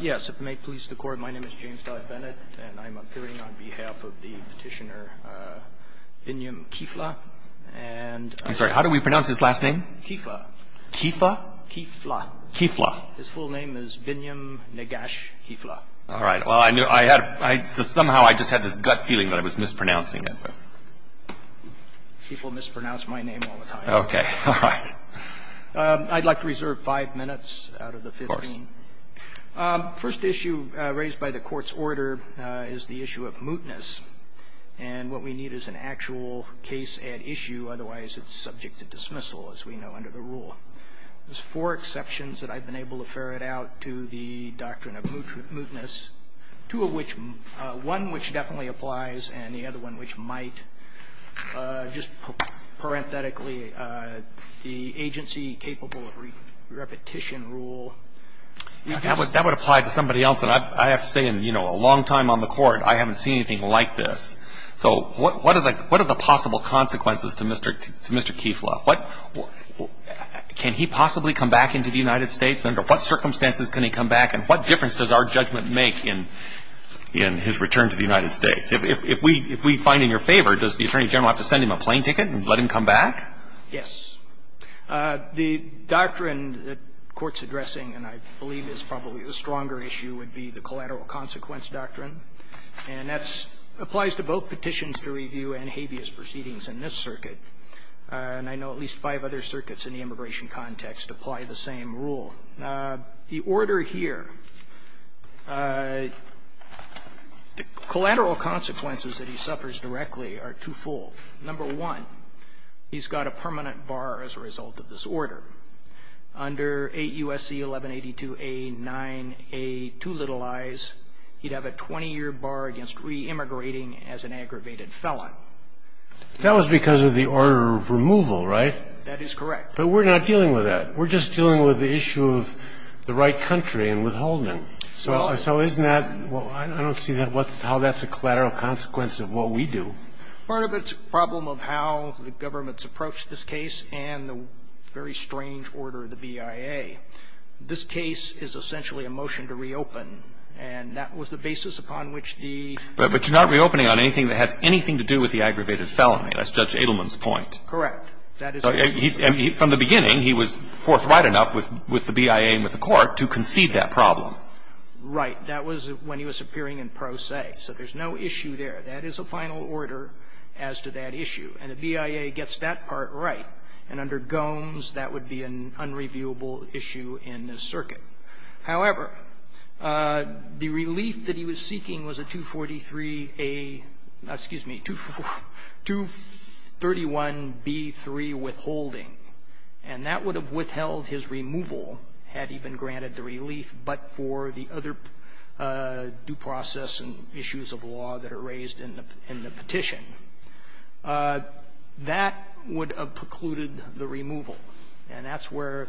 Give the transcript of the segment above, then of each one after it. Yes, if it may please the Court, my name is James Dodd Bennett, and I'm appearing on behalf of the petitioner Binyam Kifle, and... I'm sorry, how do we pronounce his last name? Kifle. Kifle? Kifle. Kifle. His full name is Binyam Negash Kifle. All right, well, I knew I had... So somehow I just had this gut feeling that I was mispronouncing it. People mispronounce my name all the time. Okay, all right. I'd like to reserve five minutes out of the 15. Of course. First issue raised by the Court's order is the issue of mootness. And what we need is an actual case at issue, otherwise it's subject to dismissal, as we know under the rule. There's four exceptions that I've been able to ferret out to the doctrine of mootness, two of which one which definitely applies and the other one which might. Just parenthetically, the agency capable of repetition rule. That would apply to somebody else. And I have to say, in a long time on the Court, I haven't seen anything like this. So what are the possible consequences to Mr. Kifle? Can he possibly come back into the United States? Under what circumstances can he come back? And what difference does our judgment make in his return to the United States? If we find in your favor, does the Attorney General have to send him a plane ticket and let him come back? Yes. The doctrine the Court's addressing, and I believe is probably the stronger issue, would be the collateral consequence doctrine. And that applies to both petitions to review and habeas proceedings in this circuit. And I know at least five other circuits in the immigration context apply the same rule. The order here, the collateral consequences that he suffers directly are twofold. Number one, he's got a permanent bar as a result of this order. Under 8 U.S.C. 1182a 9a too little eyes, he'd have a 20-year bar against re-immigrating as an aggravated felon. That was because of the order of removal, right? That is correct. But we're not dealing with that. We're just dealing with the issue of the right country and withholding. So isn't that – I don't see how that's a collateral consequence of what we do. Part of its problem of how the government's approached this case and the very strange order of the BIA, this case is essentially a motion to reopen, and that was the basis upon which the – But you're not reopening on anything that has anything to do with the aggravated felony. That's Judge Edelman's point. Correct. From the beginning, he was forthright enough with the BIA and with the court to concede that problem. Right. That was when he was appearing in pro se. So there's no issue there. That is a final order as to that issue. And the BIA gets that part right. And under Gomes, that would be an unreviewable issue in this circuit. However, the relief that he was seeking was a 243A – excuse me, 231B3 withholding, and that would have withheld his removal had he been granted the relief, but for the other due process and issues of law that are raised in the petition. That would have precluded the removal, and that's where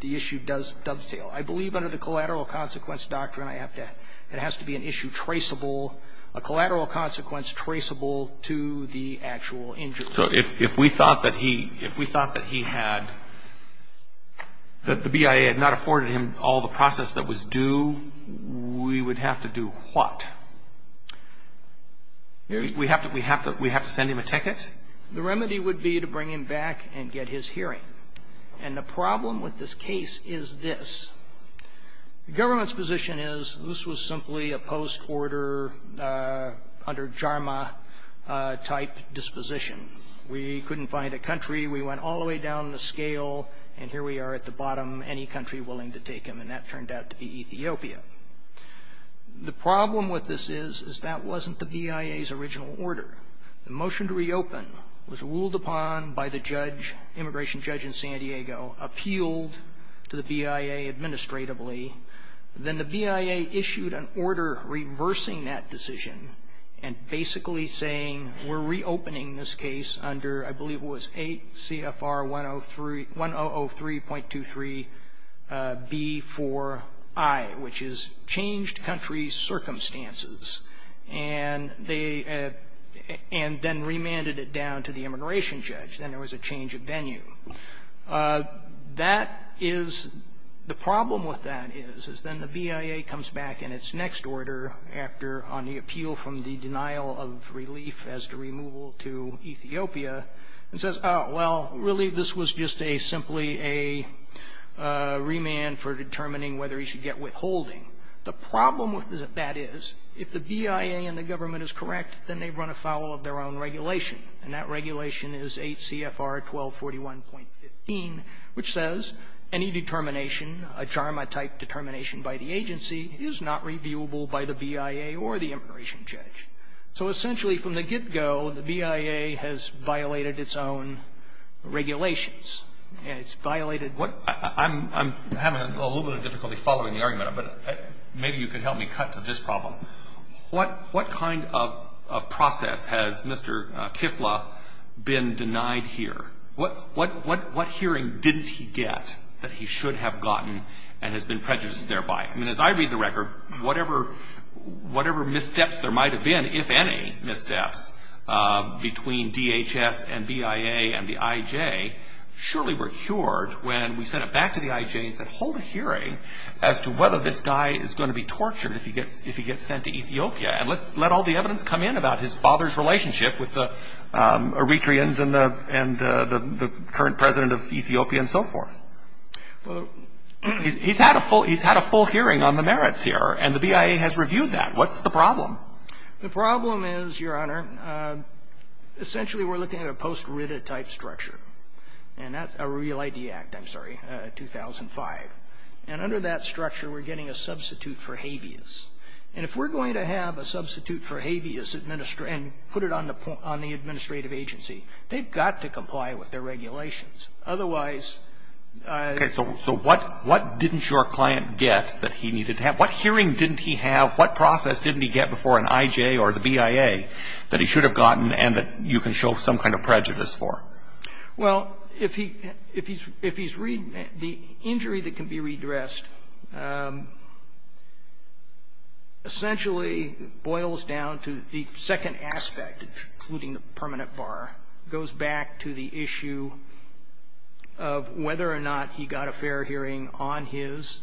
the issue does dovetail. I believe under the collateral consequence doctrine, I have to – it has to be an issue traceable, a collateral consequence traceable to the actual injury. So if we thought that he – if we thought that he had – that the BIA had not afforded him all the process that was due, we would have to do what? We have to – we have to send him a ticket? The remedy would be to bring him back and get his hearing. And the problem with this case is this. The government's position is this was simply a post-order, under Jarma-type disposition. We couldn't find a country. We went all the way down the scale, and here we are at the bottom, any country willing to take him, and that turned out to be Ethiopia. The problem with this is, is that wasn't the BIA's original order. The motion to reopen was ruled upon by the judge, immigration judge in San Diego, appealed to the BIA administratively. Then the BIA issued an order reversing that decision and basically saying we're reopening this case under, I believe it was 8 CFR 1003.23B4I, which is changed country circumstances. And they – and then remanded it down to the immigration judge. Then there was a change of venue. That is – the problem with that is, is then the BIA comes back in its next order after – on the appeal from the denial of relief as to removal to Ethiopia and says, oh, well, really this was just a – simply a remand for determining whether he should get withholding. The problem with that is, if the BIA and the government is correct, then they run afoul of their own regulation, and that regulation is 8 CFR 1241.15, which says any determination, a JARMA-type determination by the agency, is not reviewable by the BIA or the immigration judge. So essentially from the get-go, the BIA has violated its own regulations. It's violated – Maybe you could help me cut to this problem. What kind of process has Mr. Kifla been denied here? What hearing didn't he get that he should have gotten and has been prejudiced thereby? I mean, as I read the record, whatever missteps there might have been, if any missteps, between DHS and BIA and the IJ surely were cured when we sent it back to the IJ, he said, hold a hearing as to whether this guy is going to be tortured if he gets sent to Ethiopia, and let all the evidence come in about his father's relationship with the Eritreans and the current president of Ethiopia and so forth. He's had a full hearing on the merits here, and the BIA has reviewed that. What's the problem? The problem is, Your Honor, essentially we're looking at a post-RIDA-type structure, and that's a Real ID Act, I'm sorry, 2005. And under that structure, we're getting a substitute for habeas. And if we're going to have a substitute for habeas and put it on the administrative agency, they've got to comply with their regulations. Otherwise – Okay. So what didn't your client get that he needed to have? What hearing didn't he have? What process didn't he get before an IJ or the BIA that he should have gotten and that you can show some kind of prejudice for? Well, if he's read the injury that can be redressed, essentially boils down to the second aspect, including the permanent bar, goes back to the issue of whether or not he got a fair hearing on his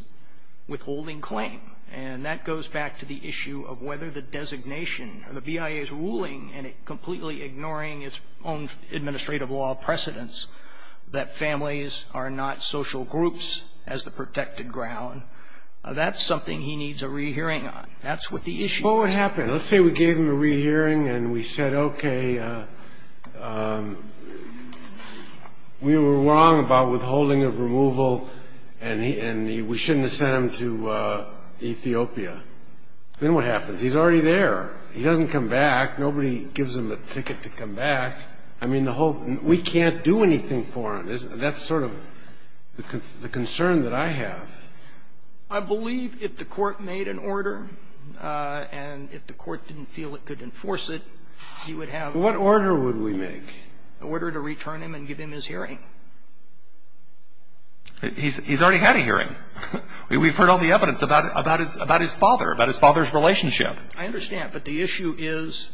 withholding claim. And that goes back to the issue of whether the designation or the BIA's ruling and it completely ignoring its own administrative law precedents, that families are not social groups as the protected ground. That's something he needs a rehearing on. That's what the issue is. Well, what happened? Let's say we gave him a rehearing and we said, okay, we were wrong about withholding and we shouldn't have sent him to Ethiopia. Then what happens? He's already there. He doesn't come back. Nobody gives him a ticket to come back. I mean, the whole – we can't do anything for him. That's sort of the concern that I have. I believe if the Court made an order and if the Court didn't feel it could enforce it, he would have – What order would we make? Order to return him and give him his hearing. He's already had a hearing. We've heard all the evidence about his father, about his father's relationship. I understand. But the issue is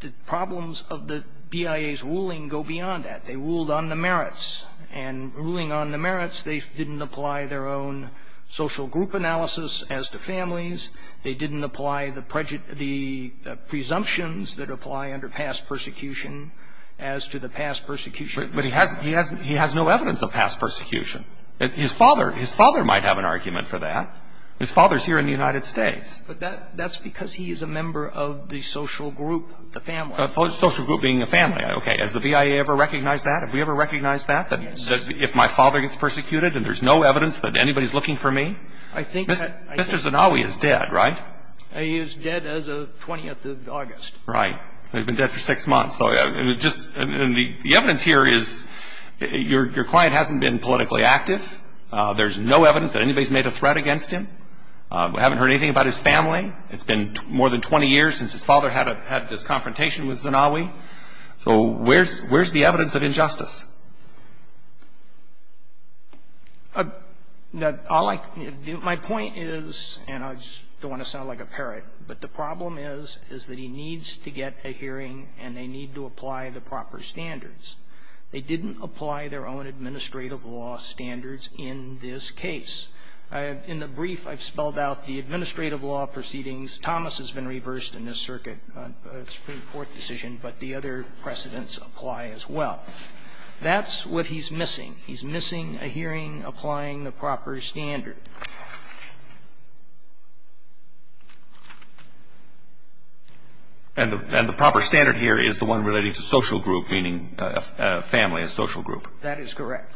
the problems of the BIA's ruling go beyond that. They ruled on the merits. And ruling on the merits, they didn't apply their own social group analysis as to families. They didn't apply the presumptions that apply under past persecution as to the past persecutions. But he has no evidence of past persecution. His father might have an argument for that. His father is here in the United States. But that's because he is a member of the social group, the family. Social group being a family. Okay. Has the BIA ever recognized that? Have we ever recognized that, that if my father gets persecuted and there's no evidence that anybody is looking for me? I think that Mr. Zanawi is dead, right? He is dead as of 20th of August. Right. He's been dead for six months. And the evidence here is your client hasn't been politically active. There's no evidence that anybody's made a threat against him. We haven't heard anything about his family. It's been more than 20 years since his father had this confrontation with Zanawi. So where's the evidence of injustice? Now, my point is, and I don't want to sound like a parrot, but the problem is, is that he needs to get a hearing and they need to apply the proper standards. They didn't apply their own administrative law standards in this case. In the brief, I've spelled out the administrative law proceedings. Thomas has been reversed in this circuit. It's a Supreme Court decision, but the other precedents apply as well. That's what he's missing. He's missing a hearing applying the proper standard. And the proper standard here is the one relating to social group, meaning a family, a social group. That is correct.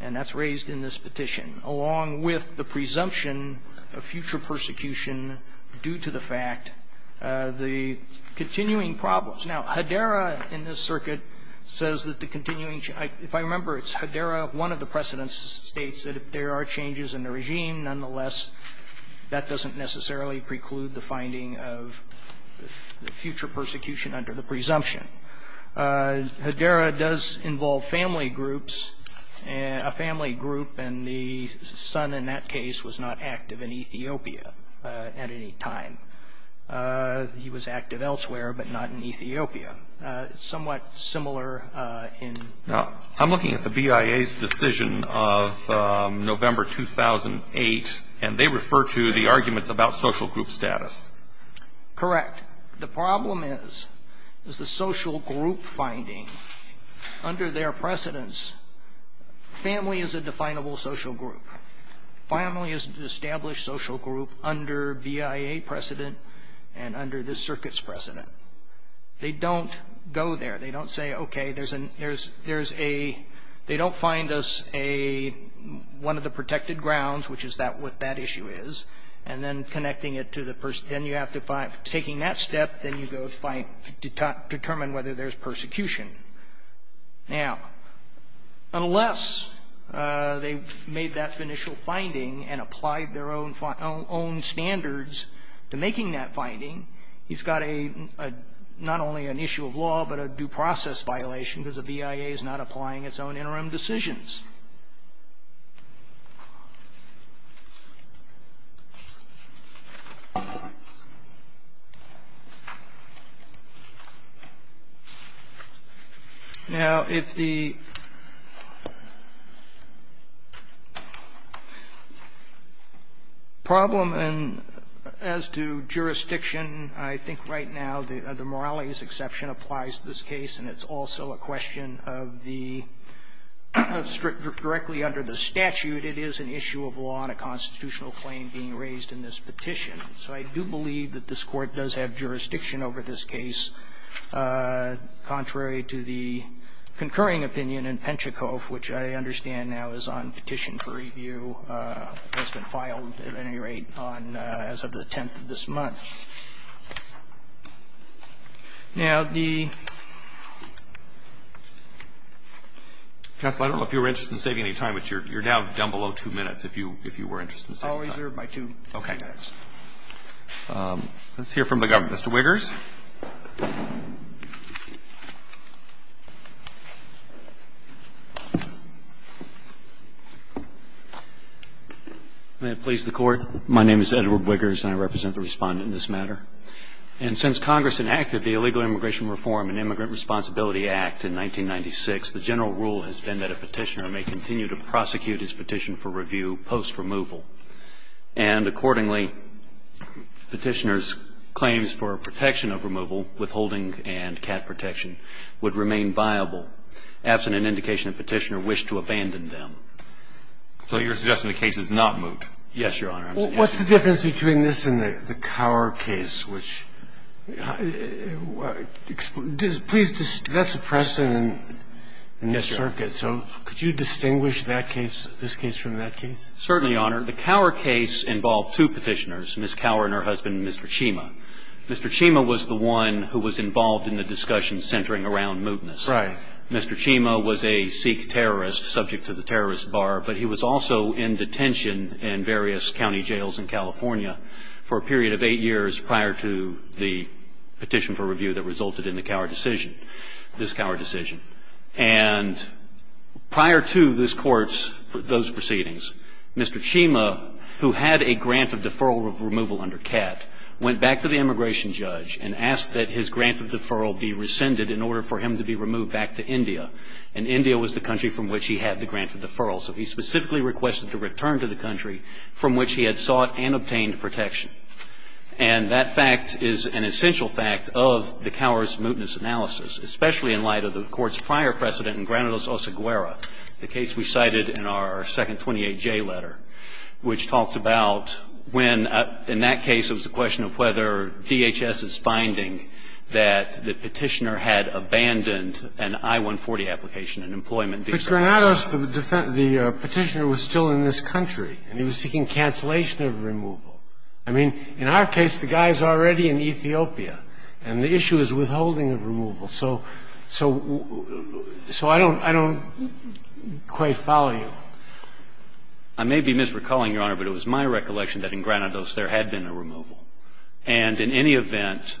And that's raised in this petition, along with the presumption of future persecution due to the fact, the continuing problems. Now, Hedera in this circuit says that the continuing change, if I remember, it's Hedera, one of the precedents states that if there are changes in the regime, nonetheless, that doesn't necessarily preclude the finding of future persecution under the presumption. Hedera does involve family groups, a family group, and the son in that case was not active in Ethiopia at any time. He was active elsewhere, but not in Ethiopia. It's somewhat similar in the other cases. Now, I'm looking at the BIA's decision of November 2008, and they refer to the arguments about social group status. Correct. The problem is, is the social group finding under their precedents, family is a definable social group. Family is an established social group under BIA precedent and under this circuit's precedent. They don't go there. They don't say, okay, there's a, there's a, they don't find us a, one of the protected grounds, which is what that issue is, and then connecting it to the, then you have to find, taking that step, then you go find, determine whether there's persecution. Now, unless they made that initial finding and applied their own standards to making that finding, he's got a, not only an issue of law, but a due process violation because the BIA is not applying its own interim decisions. Now, if the problem as to jurisdiction, I think right now the Morales exception applies to this case, and it's also a question of the strictness of jurisdiction. So I do believe that this Court does have jurisdiction over this case, contrary to the concurring opinion in Penchikov, which I understand now is on petition for review, has been filed at any rate on, as of the 10th of this month. Now, the Counsel, I don't know if you were interested in saving any time, but you're now down below two minutes if you, if you were interested in saving time. I'll reserve my two minutes. Okay. Let's hear from the government. Mr. Wiggers. May it please the Court. My name is Edward Wiggers, and I represent the Respondent in this matter. And since Congress enacted the Illegal Immigration Reform and Immigrant Responsibility Act in 1996, the general rule has been that a petitioner may continue to prosecute his petition for review post-removal. And accordingly, petitioners' claims for protection of removal, withholding and cat protection, would remain viable, absent an indication a petitioner wished to abandon them. So you're suggesting the case is not moot? Yes, Your Honor. What's the difference between this and the Cower case? Please, that's a precedent in this circuit. So could you distinguish that case, this case from that case? Certainly, Your Honor. The Cower case involved two petitioners, Ms. Cower and her husband, Mr. Chima. Mr. Chima was the one who was involved in the discussion centering around mootness. Right. Mr. Chima was a Sikh terrorist subject to the terrorist bar, but he was also in detention in various county jails in California for a period of eight years prior to the petition for review that resulted in the Cower decision, this Cower decision. And prior to this Court's, those proceedings, Mr. Chima, who had a grant of deferral removal under CAT, went back to the immigration judge and asked that his grant of deferral be rescinded in order for him to be removed back to India. And India was the country from which he had the grant of deferral. So he specifically requested to return to the country from which he had sought and obtained protection. And that fact is an essential fact of the Cower's mootness analysis, especially in light of the Court's prior precedent in Granados-Oceguera, the case we cited in our second 28J letter, which talks about when, in that case, it was a question of whether DHS's finding that the petitioner had abandoned an I-140 application in employment. But in Granados, the petitioner was still in this country, and he was seeking cancellation of removal. I mean, in our case, the guy is already in Ethiopia, and the issue is withholding of removal. So I don't quite follow you. I may be misrecalling, Your Honor, but it was my recollection that in Granados there had been a removal. And in any event,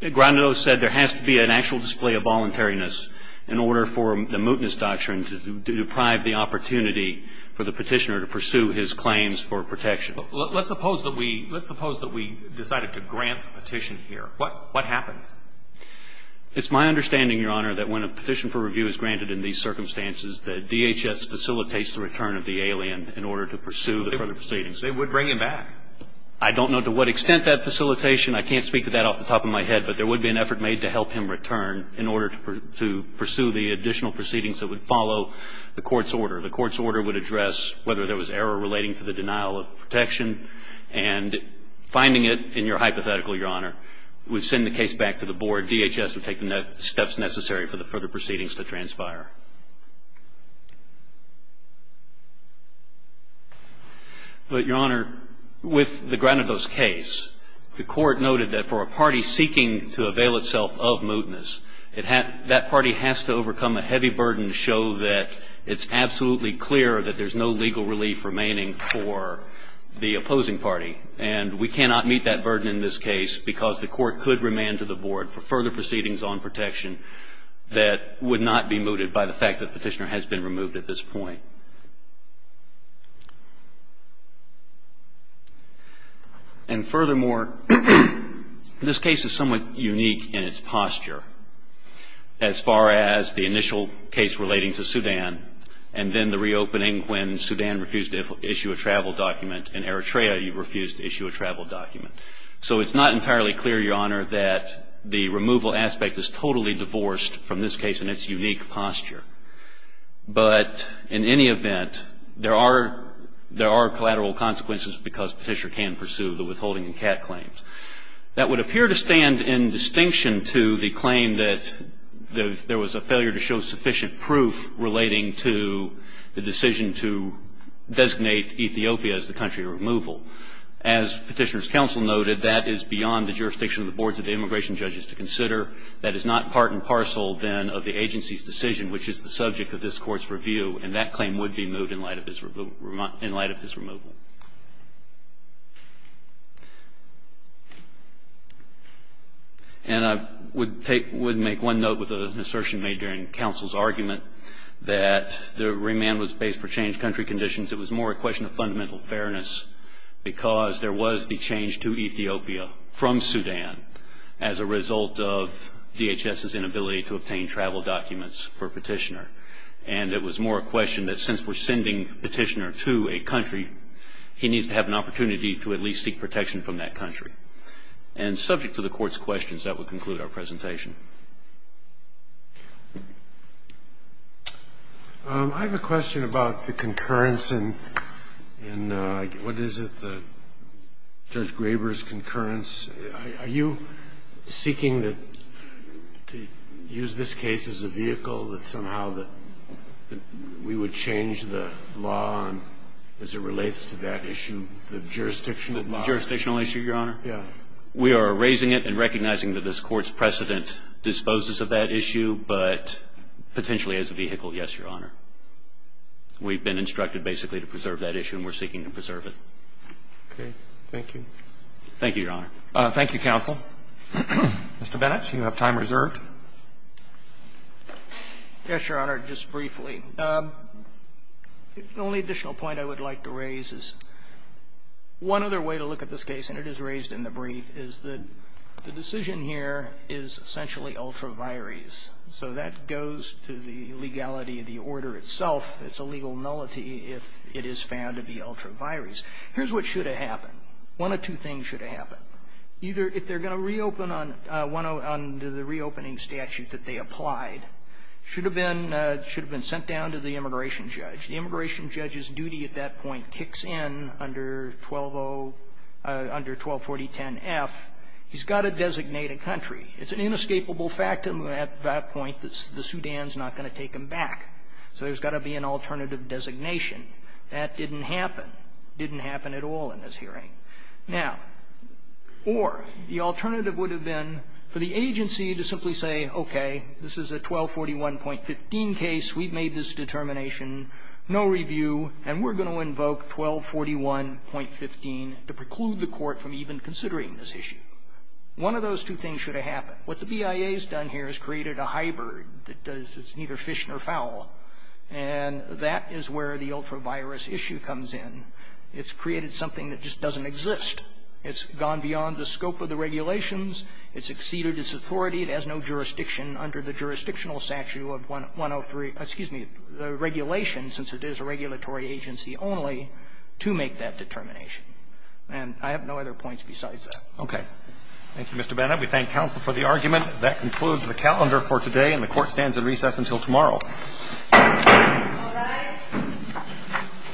Granados said there has to be an actual display of voluntariness in order for the mootness doctrine to deprive the opportunity for the petitioner to pursue his claims for protection. Let's suppose that we decided to grant the petition here. What happens? It's my understanding, Your Honor, that when a petition for review is granted in these circumstances, that DHS facilitates the return of the alien in order to pursue the further proceedings. They would bring him back. I don't know to what extent that facilitation. I can't speak to that off the top of my head. But there would be an effort made to help him return in order to pursue the additional proceedings that would follow the court's order. The court's order would address whether there was error relating to the denial of protection and finding it in your hypothetical, Your Honor, would send the case back to the board. DHS would take the steps necessary for the further proceedings to transpire. But, Your Honor, with the Granados case, the court noted that for a party seeking to avail itself of mootness, that party has to overcome a heavy burden to show that it's absolutely clear that there's no legal relief remaining for the opposing party. And we cannot meet that burden in this case because the court could remand to the board for further proceedings on protection that would not be mooted by DHS. And we cannot meet that burden by the fact that Petitioner has been removed at this point. And furthermore, this case is somewhat unique in its posture as far as the initial case relating to Sudan and then the reopening when Sudan refused to issue a travel document and Eritrea refused to issue a travel document. So it's not entirely clear, Your Honor, that the removal aspect is totally divorced from this case in its unique posture. But in any event, there are collateral consequences because Petitioner can pursue the withholding and CAT claims. That would appear to stand in distinction to the claim that there was a failure to show sufficient proof relating to the decision to designate Ethiopia as the country of removal. As Petitioner's counsel noted, that is beyond the jurisdiction of the boards of the immigration judges to consider. That is not part and parcel, then, of the agency's decision, which is the subject of this Court's review. And that claim would be moved in light of his removal. And I would make one note with an assertion made during counsel's argument that the remand was based for changed country conditions. It was more a question of fundamental fairness because there was the change to Ethiopia from Sudan as a result of DHS's inability to obtain travel documents for Petitioner. And it was more a question that since we're sending Petitioner to a country, he needs to have an opportunity to at least seek protection from that country. And subject to the Court's questions, that would conclude our presentation. I have a question about the concurrence and what is it, Judge Graber's concurrence. Are you seeking to use this case as a vehicle that somehow that we would change the law as it relates to that issue, the jurisdictional law? The jurisdictional issue, Your Honor? Yes. We are raising it and recognizing that this Court's precedent disposes of that issue, but potentially as a vehicle, yes, Your Honor. We've been instructed basically to preserve that issue and we're seeking to preserve it. Okay. Thank you. Thank you, Your Honor. Thank you, counsel. Mr. Bennett, you have time reserved. Yes, Your Honor, just briefly. The only additional point I would like to raise is one other way to look at this case, and it is raised in the brief, is that the decision here is essentially ultra vires. So that goes to the legality of the order itself. It's a legal nullity if it is found to be ultra vires. Here's what should have happened. One of two things should have happened. Either if they're going to reopen on the reopening statute that they applied, should have been sent down to the immigration judge. The immigration judge's duty at that point kicks in under 120 under 124010F. He's got to designate a country. It's an inescapable fact at that point that the Sudan's not going to take him back. So there's got to be an alternative designation. That didn't happen. It didn't happen at all in this hearing. Now, or the alternative would have been for the agency to simply say, okay, this is a 1241.15 case. We've made this determination. No review. And we're going to invoke 1241.15 to preclude the court from even considering this issue. One of those two things should have happened. What the BIA has done here is created a hybrid that does neither fish nor fowl. And that is where the ultra virus issue comes in. It's created something that just doesn't exist. It's gone beyond the scope of the regulations. It's exceeded its authority. It has no jurisdiction under the jurisdictional statute of 103, excuse me, the regulations, since it is a regulatory agency only, to make that determination. And I have no other points besides that. Roberts. Thank you, Mr. Bennett. We thank counsel for the argument. That concludes the calendar for today. And the Court stands at recess until tomorrow. All rise.